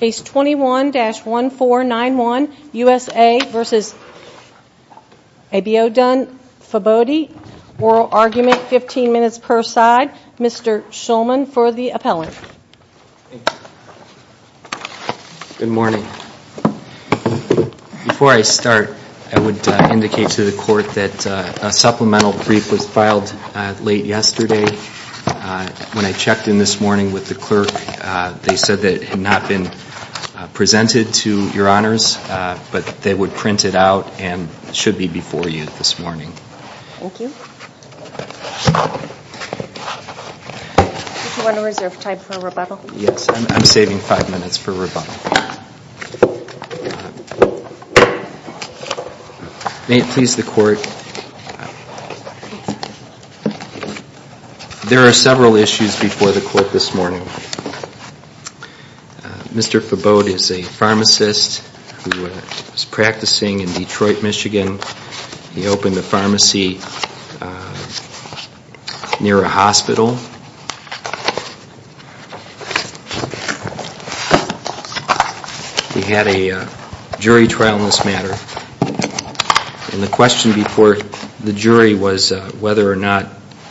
Case 21-1491 USA v. Abiodun Fabode. Oral argument 15 minutes per side. Mr. Schulman for the appellant. Good morning. Before I start, I would indicate to the court that a supplemental brief was filed late yesterday. When I checked in this morning with the clerk, they said that it had not been presented to your honors, but they would print it out and it should be before you this morning. Thank you. Do you want to reserve time for rebuttal? Yes, I'm saving five minutes for rebuttal. May it please the court. There are several issues before the court this morning. Mr. Fabode is a pharmacist who is practicing in Detroit, Michigan. He opened a pharmacy near a hospital. He had a jury trial in this matter. And the question before the jury was whether or not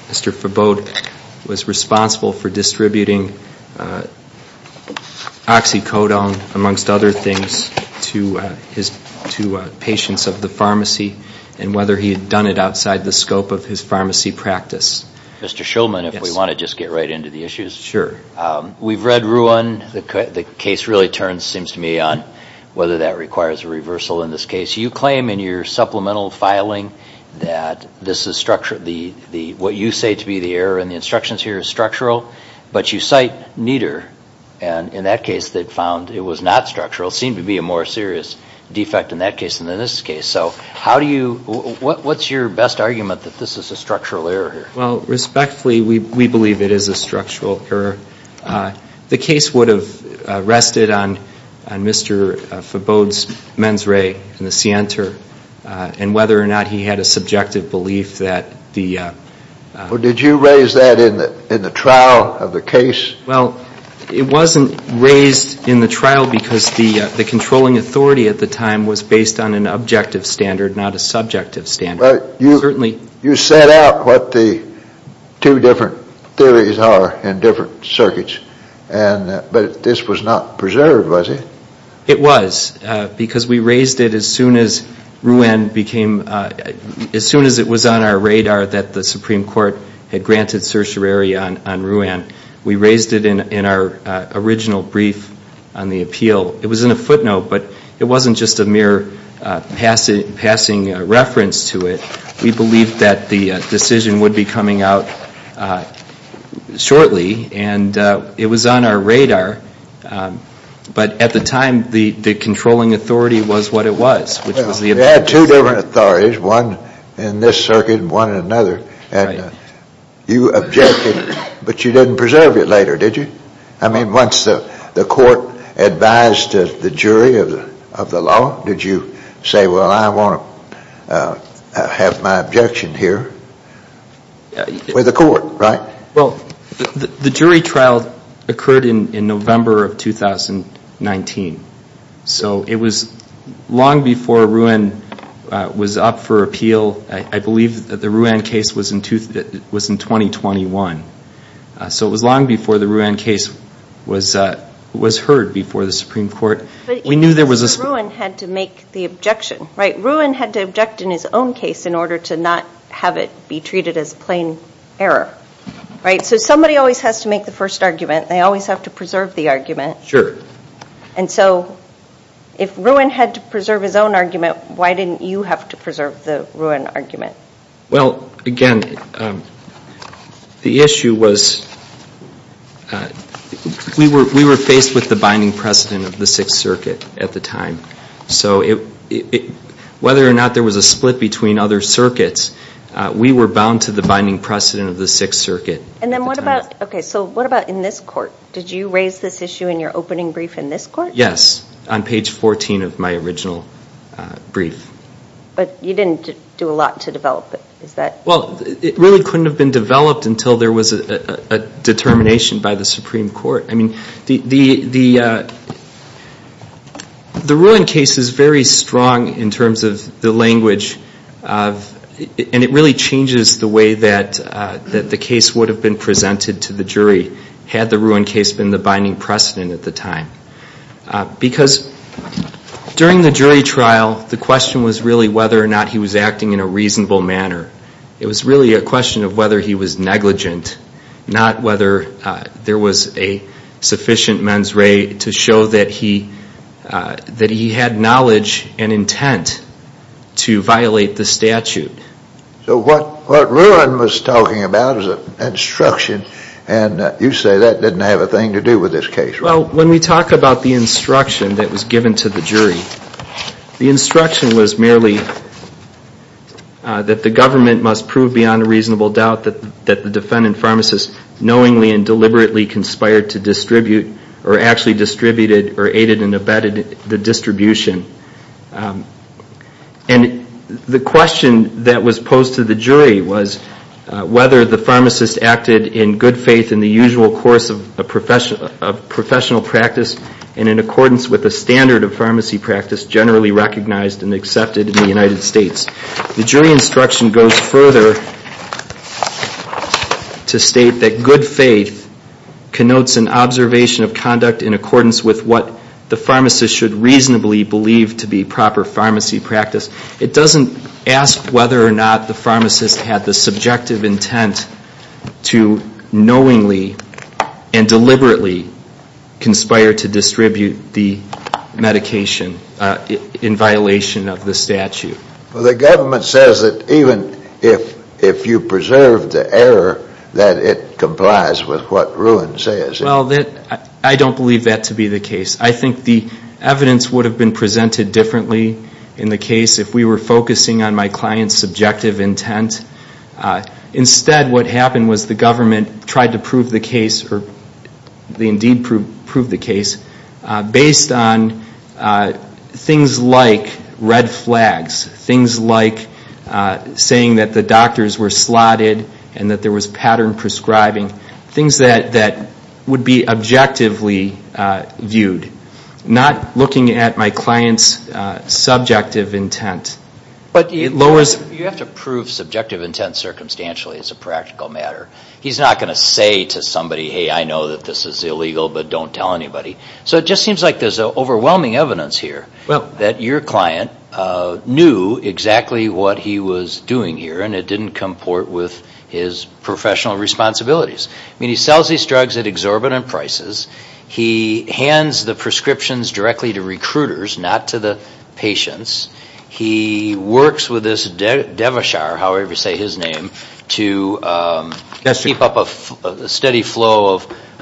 Mr. Fabode was responsible for distributing oxycodone, amongst other things, to patients of the pharmacy, and whether he had done it outside the scope of his pharmacy practice. Mr. Schulman, if we want to just get right into the issues, we've read Ruan. The case really turns, it seems to me, on whether that requires a reversal in this case. You claim in your supplemental filing that what you say to be the error in the instructions here is structural, but you cite Nieder. And in that case, they found it was not structural. It seemed to be a more serious defect in that case than in this case. So what's your best argument that this is a structural error here? Well, respectfully, we believe it is a structural error. The case would have rested on Mr. Fabode's mens re and the scienter, and whether or not he had a subjective belief that the... Well, did you raise that in the trial of the case? Well, it wasn't raised in the trial because the controlling authority at the time was based on an objective standard, not a subjective standard. You set out what the two different theories are in different circuits, but this was not preserved, was it? It was, because we raised it as soon as Ruan became, as soon as it was on our radar that the Supreme Court had granted certiorari on Ruan. We raised it in our original brief on the appeal. It was in a footnote, but it wasn't just a mere passing reference to it. We believed that the decision would be coming out shortly, and it was on our radar, but at the time, the controlling authority was what it was, which was the... You had two different authorities, one in this circuit and one in another, and you objected, but you didn't preserve it later, did you? I mean, once the court advised the jury of the law, did you say, well, I want to have my objection here with the court, right? Well, the jury trial occurred in November of 2019, so it was long before Ruan was up for appeal. I believe that the Ruan case was in 2021, so it was long before the Ruan case was heard before the Supreme Court. But even Ruan had to make the objection, right? Ruan had to object in his own case in order to not have it be treated as plain error. Right, so somebody always has to make the first argument. They always have to preserve the argument. Sure. And so if Ruan had to preserve his own argument, why didn't you have to preserve the Ruan argument? Well, again, the issue was, we were faced with the binding precedent of the Sixth Circuit at the time, so whether or not there was a split between other circuits, we were bound to the binding precedent of the Sixth Circuit at the time. And then what about, okay, so what about in this court? Did you raise this issue in your opening brief in this court? Yes, on page 14 of my original brief. But you didn't do a lot to develop it, is that? Well, it really couldn't have been developed until there was a determination by the Supreme Court. I mean, the Ruan case is very strong in terms of the language, and it really changes the way that the case would have been presented to the jury had the Ruan case been the binding precedent at the time. Because during the jury trial, the question was really whether or not he was acting in a reasonable manner. It was really a question of whether he was negligent, not whether there was a sufficient mens re to show that he had knowledge and intent to violate the statute. So what Ruan was talking about was an instruction, and you say that didn't have a thing to do with this case, right? Well, when we talk about the instruction that was given to the jury, the instruction was merely that the government must prove beyond a reasonable doubt that the defendant pharmacist knowingly and deliberately conspired to distribute or actually distributed or aided and abetted the distribution. And the question that was posed to the jury was whether the pharmacist acted in good faith in the usual course of professional practice and in accordance with the standard of pharmacy practice generally recognized and accepted in the United States. The jury instruction goes further to state that good faith connotes an observation of conduct in accordance with what the pharmacist should reasonably believe to be proper pharmacy practice. It doesn't ask whether or not the pharmacist had the subjective intent to knowingly and deliberately conspire to distribute the medication in violation of the statute. Well, the government says that even if you preserve the error, that it complies with what Ruan says. Well, I don't believe that to be the case. I think the evidence would have been presented differently in the case if we were focusing on my client's subjective intent. Instead, what happened was the government tried to prove the case or they indeed proved the case based on things like red flags, things like saying that the doctors were slotted and that there was pattern prescribing, things that would be objectively viewed, not looking at my client's subjective intent. But you have to prove subjective intent circumstantially as a practical matter. He's not going to say to somebody, hey, I know that this is illegal, but don't tell anybody. So it just seems like there's overwhelming evidence here that your client knew exactly what he was doing here and it didn't comport with his professional responsibilities. I mean, he sells these drugs at exorbitant prices. He hands the prescriptions directly to recruiters, not to the patients. He works with this devishar, however you say his name, to keep up a steady flow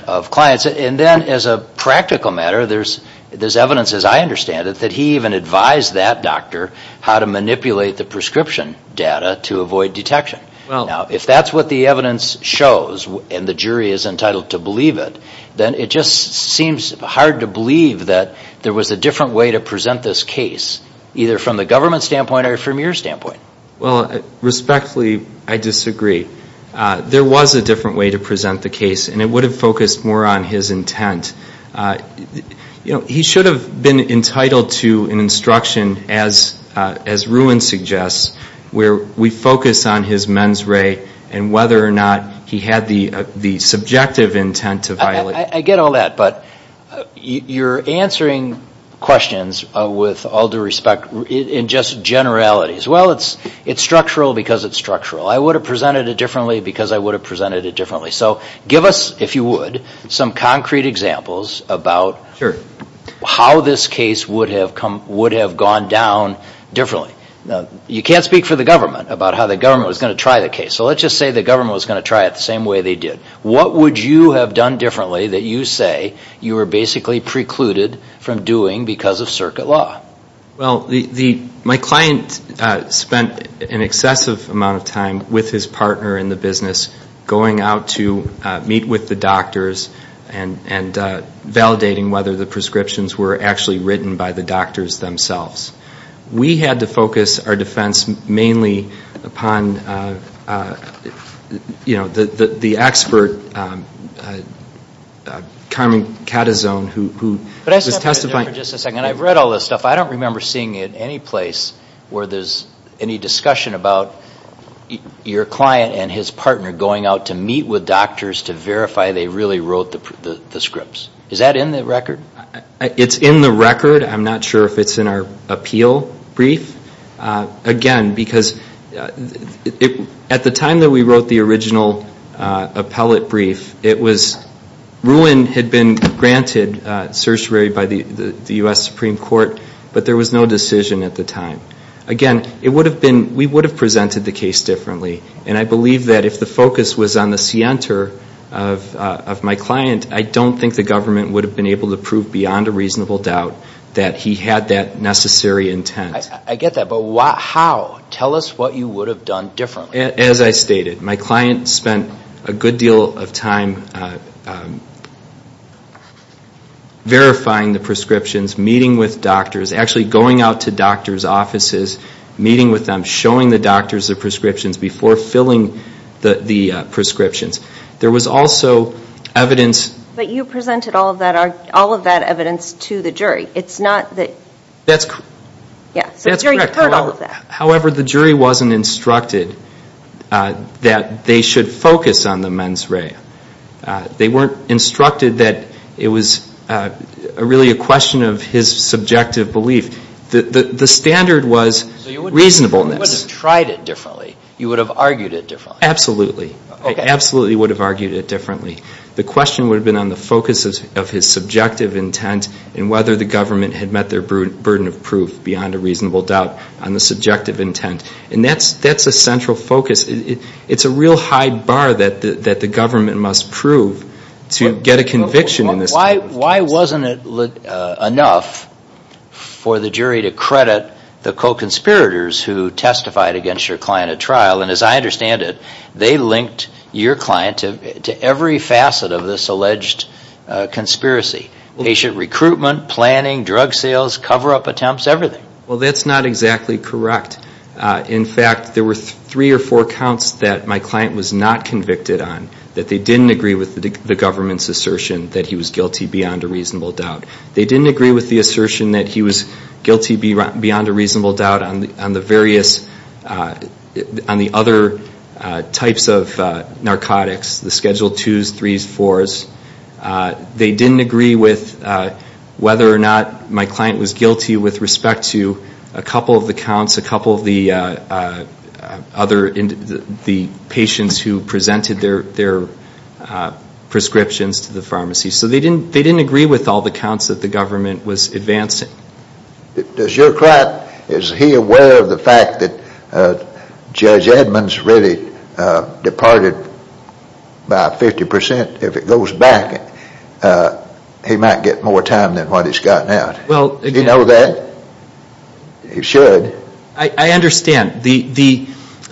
of clients. And then as a practical matter, there's evidence, as I understand it, that he even advised that doctor how to manipulate the prescription data to avoid detection. Now, if that's what the evidence shows and the jury is entitled to believe it, then it just seems hard to believe that there was a different way to present this case, either from the government's standpoint or from your standpoint. Well, respectfully, I disagree. There was a different way to present the case and it would have focused more on his intent. He should have been entitled to an instruction, as Ruin suggests, where we focus on his mens re and whether or not he had the subjective intent to violate it. I get all that, but you're answering questions with all due respect in just generalities. Well, it's structural because it's structural. I would have presented it differently because I would have presented it differently. So give us, if you would, some concrete examples about how this case would have gone down differently. Now, you can't speak for the government about how the government was going to try the case. So let's just say the government was going to try it the same way they did. What would you have done differently that you say you were basically precluded from doing because of circuit law? Well, my client spent an excessive amount of time with his partner in the business going out to meet with the doctors and validating whether the prescriptions were actually written by the doctors themselves. We had to focus our defense mainly upon, you know, the expert, Carmen Catazon, who was testifying. Hold on for just a second. I've read all this stuff. I don't remember seeing it any place where there's any discussion about your client and his partner going out to meet with doctors to verify they really wrote the scripts. Is that in the record? It's in the record. I'm not sure if it's in our appeal brief. Again, because at the time that we wrote the original appellate brief, RUIN had been granted certiorari by the U.S. Supreme Court, but there was no decision at the time. Again, we would have presented the case differently, and I believe that if the focus was on the scienter of my client, I don't think the government would have been able to prove beyond a reasonable doubt that he had that necessary intent. I get that, but how? Tell us what you would have done differently. As I stated, my client spent a good deal of time verifying the prescriptions, meeting with doctors, actually going out to doctors' offices, meeting with them, showing the doctors the prescriptions before filling the prescriptions. There was also evidence... But you presented all of that evidence to the jury. It's not that... That's correct. Yeah, so the jury heard all of that. However, the jury wasn't instructed that they should focus on the mens rea. They weren't instructed that it was really a question of his subjective belief. The standard was reasonableness. So you wouldn't have tried it differently. You would have argued it differently. Absolutely. I absolutely would have argued it differently. The question would have been on the focus of his subjective intent and whether the government had met their burden of proof beyond a reasonable doubt on the subjective intent. And that's a central focus. It's a real high bar that the government must prove to get a conviction in this case. Why wasn't it enough for the jury to credit the co-conspirators who testified against your client at trial? And as I understand it, they linked your client to every facet of this alleged conspiracy. Patient recruitment, planning, drug sales, cover-up attempts, everything. Well, that's not exactly correct. In fact, there were three or four counts that my client was not convicted on, that they didn't agree with the government's assertion that he was guilty beyond a reasonable doubt. They didn't agree with the assertion that he was guilty beyond a reasonable doubt on the various... on the other types of narcotics, the Schedule 2s, 3s, 4s. They didn't agree with whether or not my client was guilty with respect to a couple of the counts, a couple of the other patients who presented their prescriptions to the pharmacy. So they didn't agree with all the counts that the government was advancing. Does your client, is he aware of the fact that Judge Edmonds really departed by 50%? If it goes back, he might get more time than what he's gotten out. Does he know that? He should. I understand. The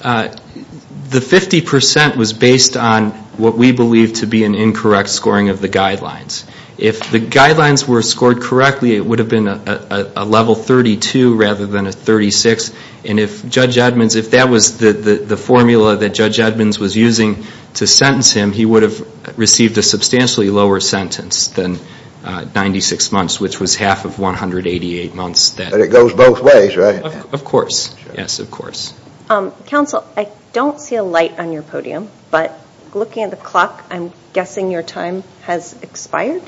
50% was based on what we believe to be an incorrect scoring of the guidelines. If the guidelines were scored correctly, it would have been a level 32 rather than a 36. And if Judge Edmonds, if that was the formula that Judge Edmonds was using to sentence him, he would have received a substantially lower sentence than 96 months, which was half of 188 months. But it goes both ways, right? Of course. Yes, of course. Counsel, I don't see a light on your podium. But looking at the clock, I'm guessing your time has expired.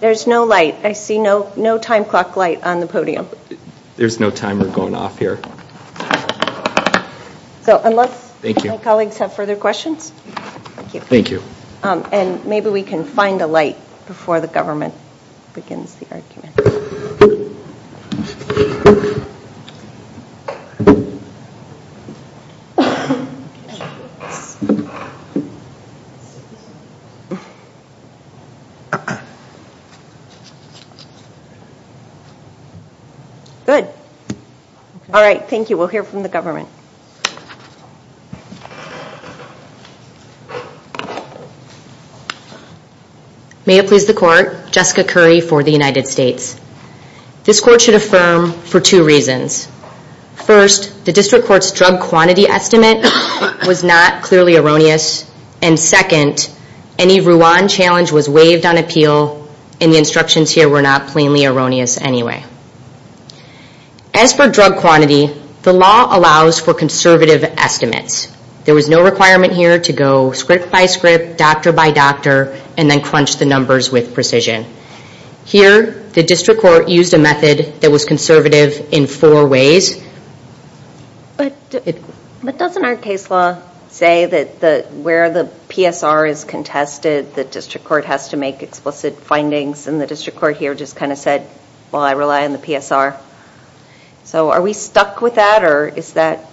There's no light. I see no time clock light on the podium. There's no timer going off here. So unless my colleagues have further questions. Thank you. And maybe we can find a light before the government begins the argument. Good. All right. Thank you. We'll hear from the government. May it please the Court, Jessica Curry for the United States. This Court should affirm for two reasons. First, the District Court's drug quantity estimate was not clearly erroneous. And second, any Ruan challenge was waived on appeal and the instructions here were not plainly erroneous anyway. As for drug quantity, the law allows for conservative estimates. There was no requirement here to go script by script, doctor by doctor, and then crunch the numbers with precision. Here, the District Court used a method that was conservative in four ways. But doesn't our case law say that where the PSR is contested, the District Court has to make explicit findings, and the District Court here just kind of said, well, I rely on the PSR. So are we stuck with that, or is that?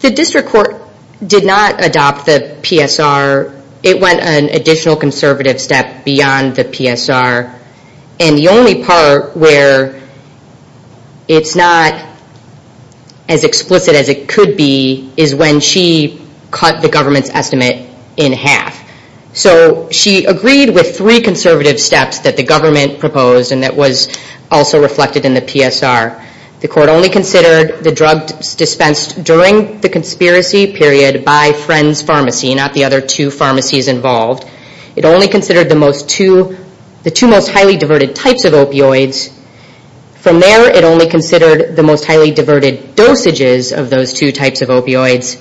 The District Court did not adopt the PSR. It went an additional conservative step beyond the PSR. And the only part where it's not as explicit as it could be is when she cut the government's estimate in half. So she agreed with three conservative steps that the government proposed and that was also reflected in the PSR. The Court only considered the drugs dispensed during the conspiracy period by Friends Pharmacy, not the other two pharmacies involved. It only considered the two most highly diverted types of opioids. From there, it only considered the most highly diverted dosages of those two types of opioids.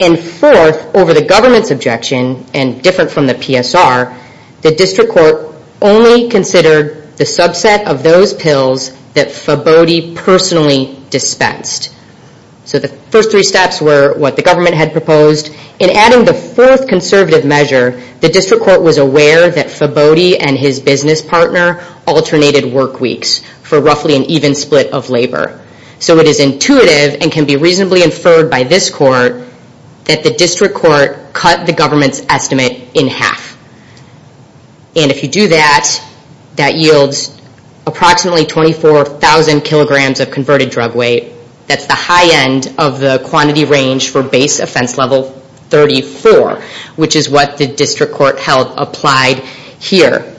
And fourth, over the government's objection, and different from the PSR, the District Court only considered the subset of those pills that Fabody personally dispensed. So the first three steps were what the government had proposed. In adding the fourth conservative measure, the District Court was aware that Fabody and his business partner alternated work weeks for roughly an even split of labor. So it is intuitive and can be reasonably inferred by this Court that the District Court cut the government's estimate in half. And if you do that, that yields approximately 24,000 kilograms of converted drug weight. That's the high end of the quantity range for base offense level 34, which is what the District Court held applied here.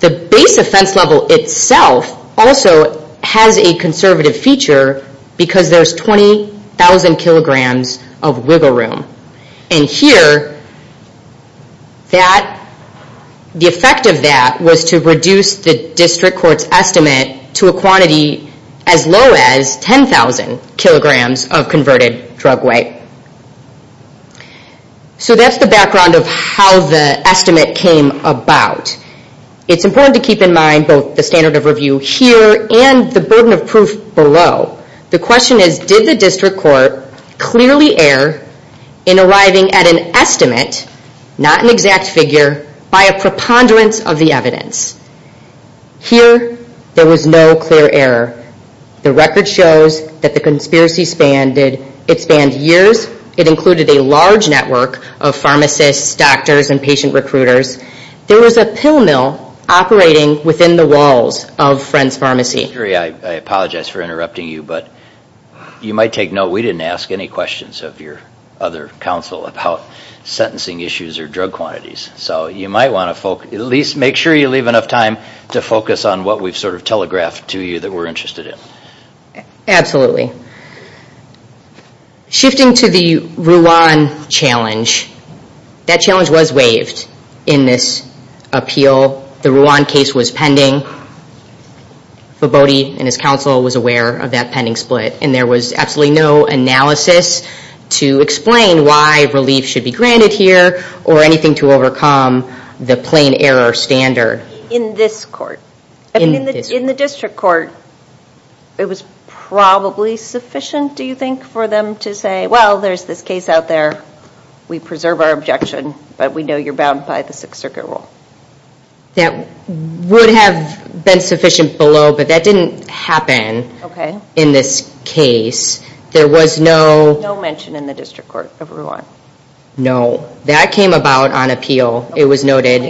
The base offense level itself also has a conservative feature because there's 20,000 kilograms of wiggle room. And here, the effect of that was to reduce the District Court's estimate to a quantity as low as 10,000 kilograms of converted drug weight. So that's the background of how the estimate came about. It's important to keep in mind both the standard of review here and the burden of proof below. The question is, did the District Court clearly err in arriving at an estimate, not an exact figure, by a preponderance of the evidence? Here, there was no clear error. The record shows that the conspiracy spanned years. It included a large network of pharmacists, doctors, and patient recruiters. There was a pill mill operating within the walls of Friends Pharmacy. I apologize for interrupting you, but you might take note, we didn't ask any questions of your other counsel about sentencing issues or drug quantities. So you might want to at least make sure you leave enough time to focus on what we've sort of telegraphed to you that we're interested in. Absolutely. Shifting to the Ruan challenge, that challenge was waived in this appeal. The Ruan case was pending. Vobody and his counsel was aware of that pending split, and there was absolutely no analysis to explain why relief should be granted here or anything to overcome the plain error standard. In this court? In the district court, it was probably sufficient, do you think, for them to say, well, there's this case out there, we preserve our objection, but we know you're bound by the Sixth Circuit rule. That would have been sufficient below, but that didn't happen in this case. There was no... No mention in the district court of Ruan. No. That came about on appeal. It was noted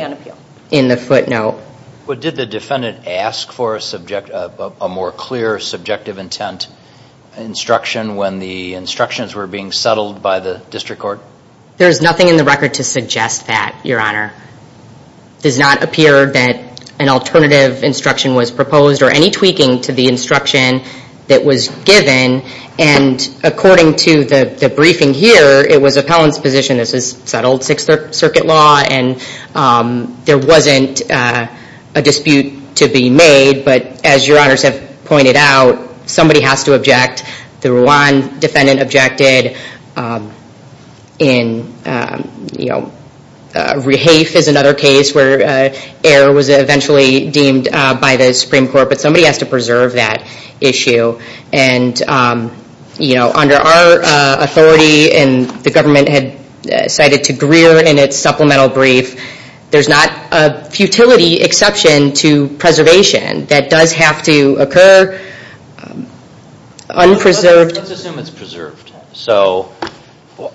in the footnote. But did the defendant ask for a more clear subjective intent instruction when the instructions were being settled by the district court? There's nothing in the record to suggest that, Your Honor. It does not appear that an alternative instruction was proposed or any tweaking to the instruction that was given, and according to the briefing here, it was appellant's position, this is settled Sixth Circuit law, and there wasn't a dispute to be made. But as Your Honors have pointed out, somebody has to object. The Ruan defendant objected. Rehafe is another case where error was eventually deemed by the Supreme Court, but somebody has to preserve that issue. Under our authority, and the government had cited to Greer in its supplemental brief, there's not a futility exception to preservation that does have to occur unpreserved. Let's assume it's preserved. So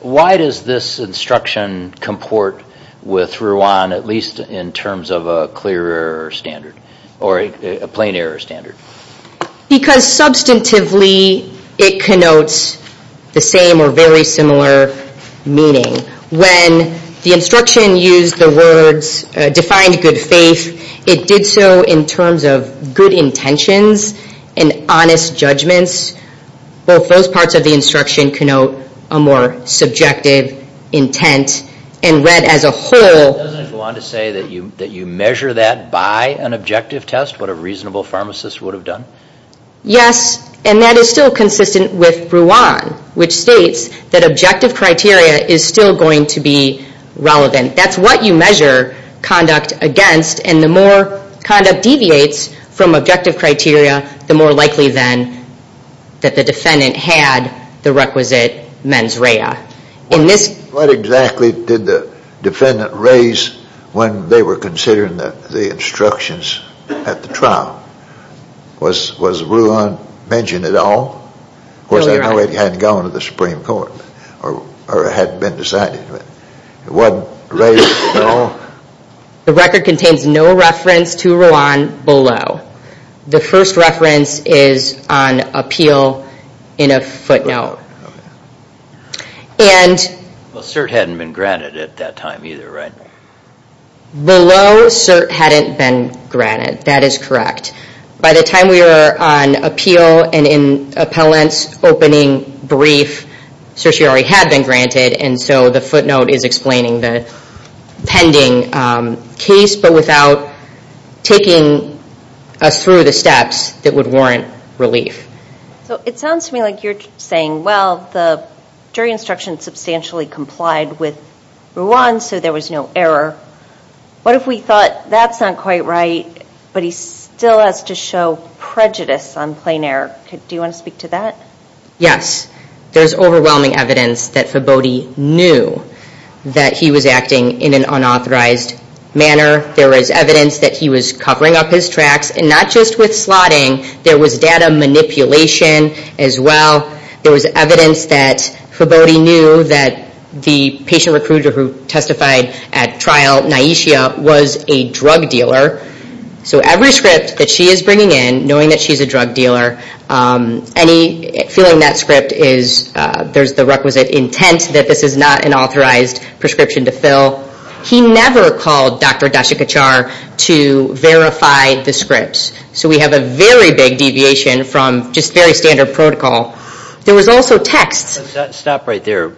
why does this instruction comport with Ruan, at least in terms of a clear error standard or a plain error standard? Because substantively it connotes the same or very similar meaning. When the instruction used the words, defined good faith, it did so in terms of good intentions and honest judgments. Both those parts of the instruction connote a more subjective intent, and read as a whole. Doesn't it go on to say that you measure that by an objective test? What a reasonable pharmacist would have done? Yes, and that is still consistent with Ruan, which states that objective criteria is still going to be relevant. That's what you measure conduct against, and the more conduct deviates from objective criteria, the more likely then that the defendant had the requisite mens rea. What exactly did the defendant raise when they were considering the instructions at the trial? Was Ruan mentioned at all? Of course, I know it hadn't gone to the Supreme Court, or it hadn't been decided. It wasn't raised at all? The record contains no reference to Ruan below. The first reference is on appeal in a footnote. Well, cert hadn't been granted at that time either, right? Below, cert hadn't been granted. That is correct. By the time we were on appeal and in appellant's opening brief, certiorari had been granted, and so the footnote is explaining the pending case, but without taking us through the steps that would warrant relief. It sounds to me like you're saying, well, the jury instruction substantially complied with Ruan, so there was no error. What if we thought that's not quite right, but he still has to show prejudice on plain error? Do you want to speak to that? Yes. There's overwhelming evidence that Fabote knew that he was acting in an unauthorized manner. There was evidence that he was covering up his tracks, and not just with slotting. There was data manipulation as well. There was evidence that Fabote knew that the patient recruiter who testified at trial, Naishia, was a drug dealer. So every script that she is bringing in, knowing that she's a drug dealer, any feeling that script is, there's the requisite intent that this is not an authorized prescription to fill, he never called Dr. Dasikachar to verify the scripts. So we have a very big deviation from just very standard protocol. There was also text. Stop right there.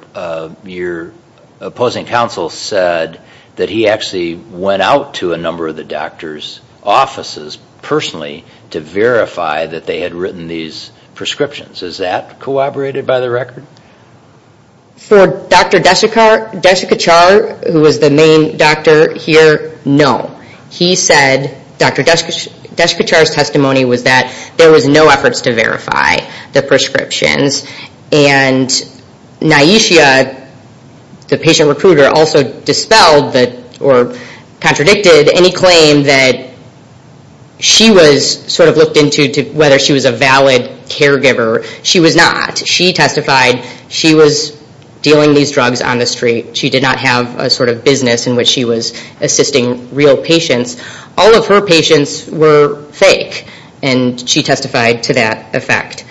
Your opposing counsel said that he actually went out to a number of the doctor's offices personally to verify that they had written these prescriptions. Is that corroborated by the record? For Dr. Dasikachar, who was the main doctor here, no. He said, Dr. Dasikachar's testimony was that there was no efforts to verify the prescriptions. And Naishia, the patient recruiter, also dispelled or contradicted any claim that she was sort of looked into whether she was a valid caregiver. She was not. She testified she was dealing these drugs on the street. She did not have a sort of business in which she was assisting real patients. All of her patients were fake. And she testified to that effect.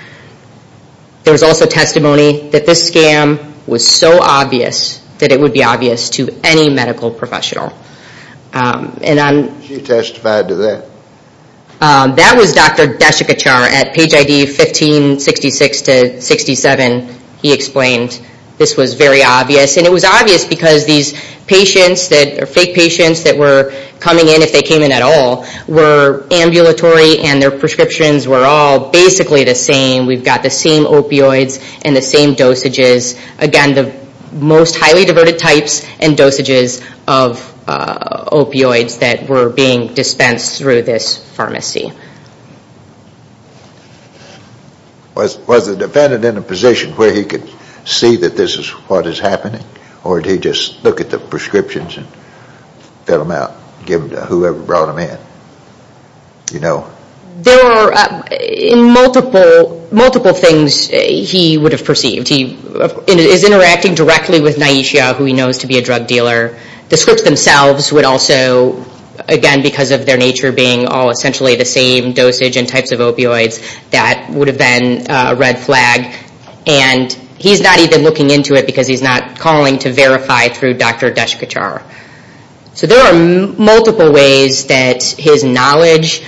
There was also testimony that this scam was so obvious that it would be obvious to any medical professional. She testified to that? That was Dr. Dasikachar at page ID 1566-67. He explained this was very obvious. And it was obvious because these patients, these fake patients that were coming in, if they came in at all, were ambulatory and their prescriptions were all basically the same. We've got the same opioids and the same dosages. Again, the most highly diverted types and dosages of opioids that were being dispensed through this pharmacy. Was the defendant in a position where he could see that this is what is happening? Or did he just look at the prescriptions and fill them out, give them to whoever brought them in? There are multiple things he would have perceived. He is interacting directly with Naishia, who he knows to be a drug dealer. The scripts themselves would also, again, because of their nature being all essentially the same dosage and types of opioids, that would have been a red flag. And he's not even looking into it because he's not calling to verify through Dr. Dasikachar. So there are multiple ways that his knowledge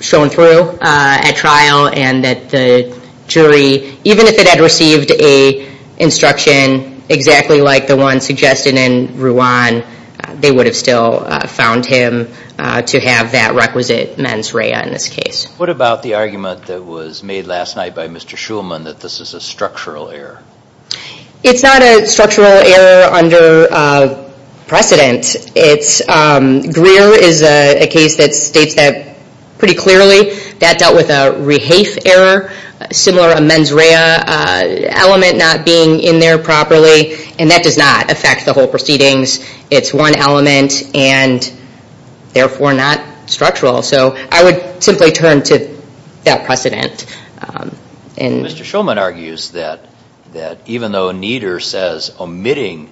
shown through at trial and that the jury, even if it had received an instruction exactly like the one suggested in Ruan, they would have still found him to have that requisite mens rea in this case. What about the argument that was made last night by Mr. Shulman that this is a structural error? It's not a structural error under precedent. Greer is a case that states that pretty clearly. That dealt with a rehafe error, similar a mens rea element not being in there properly, and that does not affect the whole proceedings. It's one element and therefore not structural. So I would simply turn to that precedent. Mr. Shulman argues that even though Nieder says omitting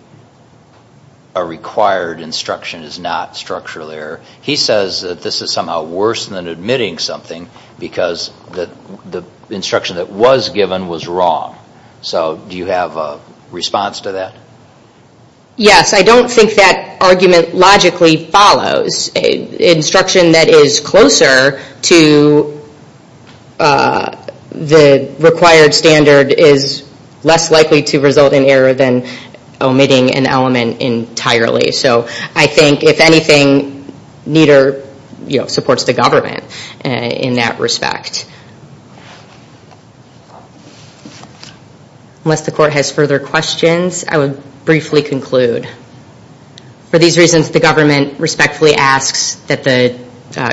a required instruction is not structural error, he says that this is somehow worse than admitting something because the instruction that was given was wrong. So do you have a response to that? Yes, I don't think that argument logically follows. Instruction that is closer to the required standard is less likely to result in error than omitting an element entirely. So I think if anything, Nieder supports the government in that respect. Unless the court has further questions, I would briefly conclude. For these reasons, the government respectfully asks that the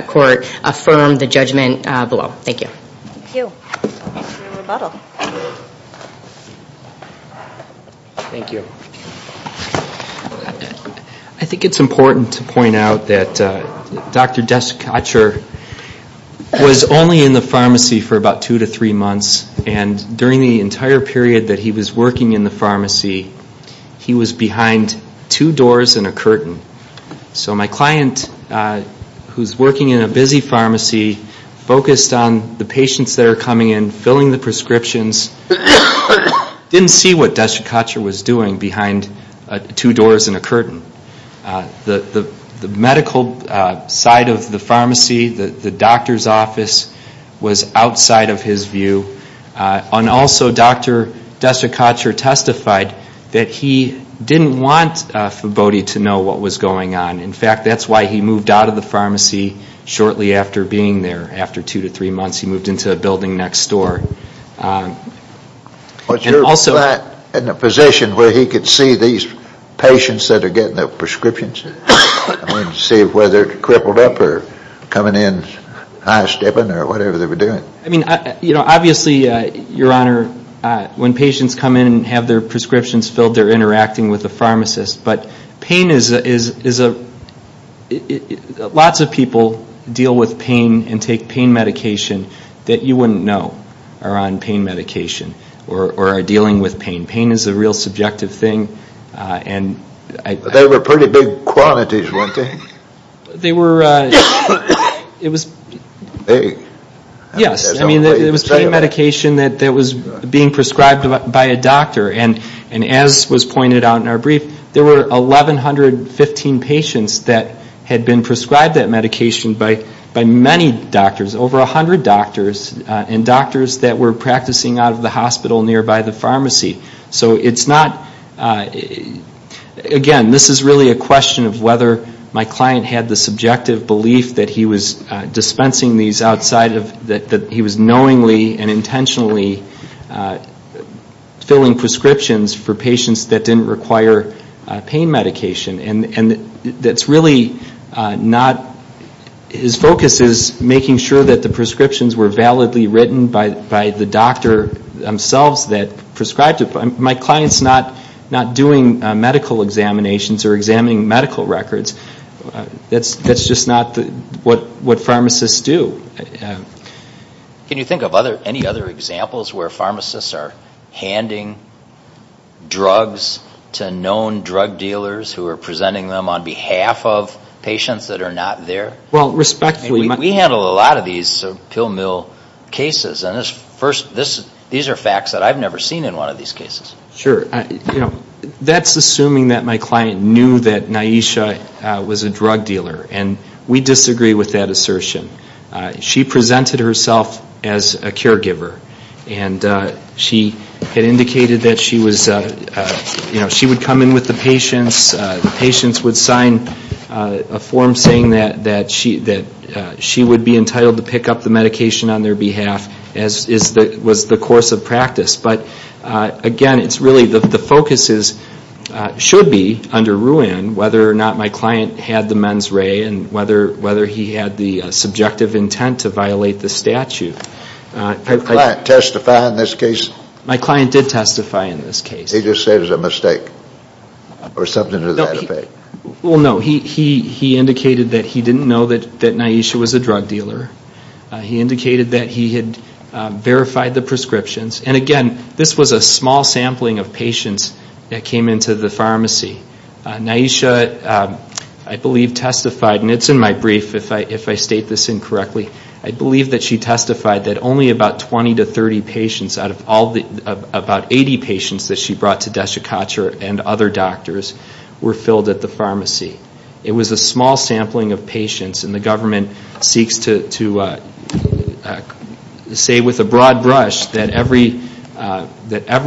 court affirm the judgment below. Thank you. Thank you. Thank you for your rebuttal. I think it's important to point out that Dr. Desiccatcher was only in the pharmacy for about two to three months, and during the entire period that he was working in the pharmacy, he was behind two doors and a curtain. So my client, who's working in a busy pharmacy, focused on the patients that are coming in, filling the prescriptions, didn't see what Desiccatcher was doing behind two doors and a curtain. The medical side of the pharmacy, the doctor's office, was outside of his view. And also Dr. Desiccatcher testified that he didn't want Fibotti to know what was going on. In fact, that's why he moved out of the pharmacy shortly after being there, after two to three months. He moved into a building next door. Was your client in a position where he could see these patients that are getting their prescriptions, and see whether they're crippled up or coming in high-stepping or whatever they were doing? Obviously, Your Honor, when patients come in and have their prescriptions filled, they're interacting with the pharmacist. But pain is a – lots of people deal with pain and take pain medication that you wouldn't know are on pain medication or are dealing with pain. Pain is a real subjective thing. They were pretty big quantities, weren't they? They were – it was – Big. Yes. I mean, it was pain medication that was being prescribed by a doctor. And as was pointed out in our brief, there were 1,115 patients that had been prescribed that medication by many doctors, over 100 doctors, and doctors that were practicing out of the hospital nearby the pharmacy. So it's not – again, this is really a question of whether my client had the subjective belief that he was dispensing these outside of – that he was knowingly and intentionally filling prescriptions for patients that didn't require pain medication. And that's really not – his focus is making sure that the prescriptions were validly written by the doctor themselves that prescribed it. My client's not doing medical examinations or examining medical records. That's just not what pharmacists do. Can you think of any other examples where pharmacists are handing drugs to known drug dealers who are presenting them on behalf of patients that are not there? Well, respectfully – We handle a lot of these pill mill cases, and these are facts that I've never seen in one of these cases. Sure. That's assuming that my client knew that Naisha was a drug dealer, and we disagree with that assertion. She presented herself as a caregiver, and she had indicated that she was – she would come in with the patients, the patients would sign a form saying that she would be entitled to pick up the medication on their behalf as was the course of practice. But, again, it's really – the focus should be, under RUAN, whether or not my client had the mens rea and whether he had the subjective intent to violate the statute. Did your client testify in this case? My client did testify in this case. He just said it was a mistake or something to that effect? Well, no. He indicated that he didn't know that Naisha was a drug dealer. He indicated that he had verified the prescriptions. And, again, this was a small sampling of patients that came into the pharmacy. Naisha, I believe, testified – and it's in my brief, if I state this incorrectly – I believe that she testified that only about 20 to 30 patients out of all the – about 80 patients that she brought to Desiccateur and other doctors were filled at the pharmacy. It was a small sampling of patients, and the government seeks to say with a broad brush that every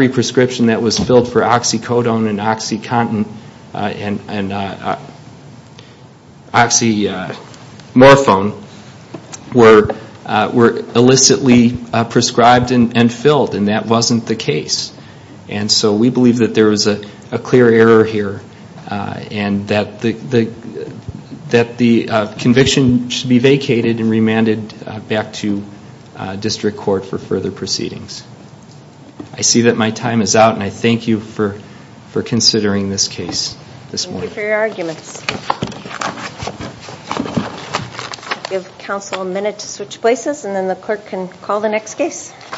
prescription that was filled for oxycodone and oxycontin and oxymorphone were illicitly prescribed and filled, and that wasn't the case. And so we believe that there was a clear error here and that the conviction should be vacated and remanded back to district court for further proceedings. I see that my time is out, and I thank you for considering this case this morning. Thank you for your arguments. We'll give counsel a minute to switch places, and then the clerk can call the next case.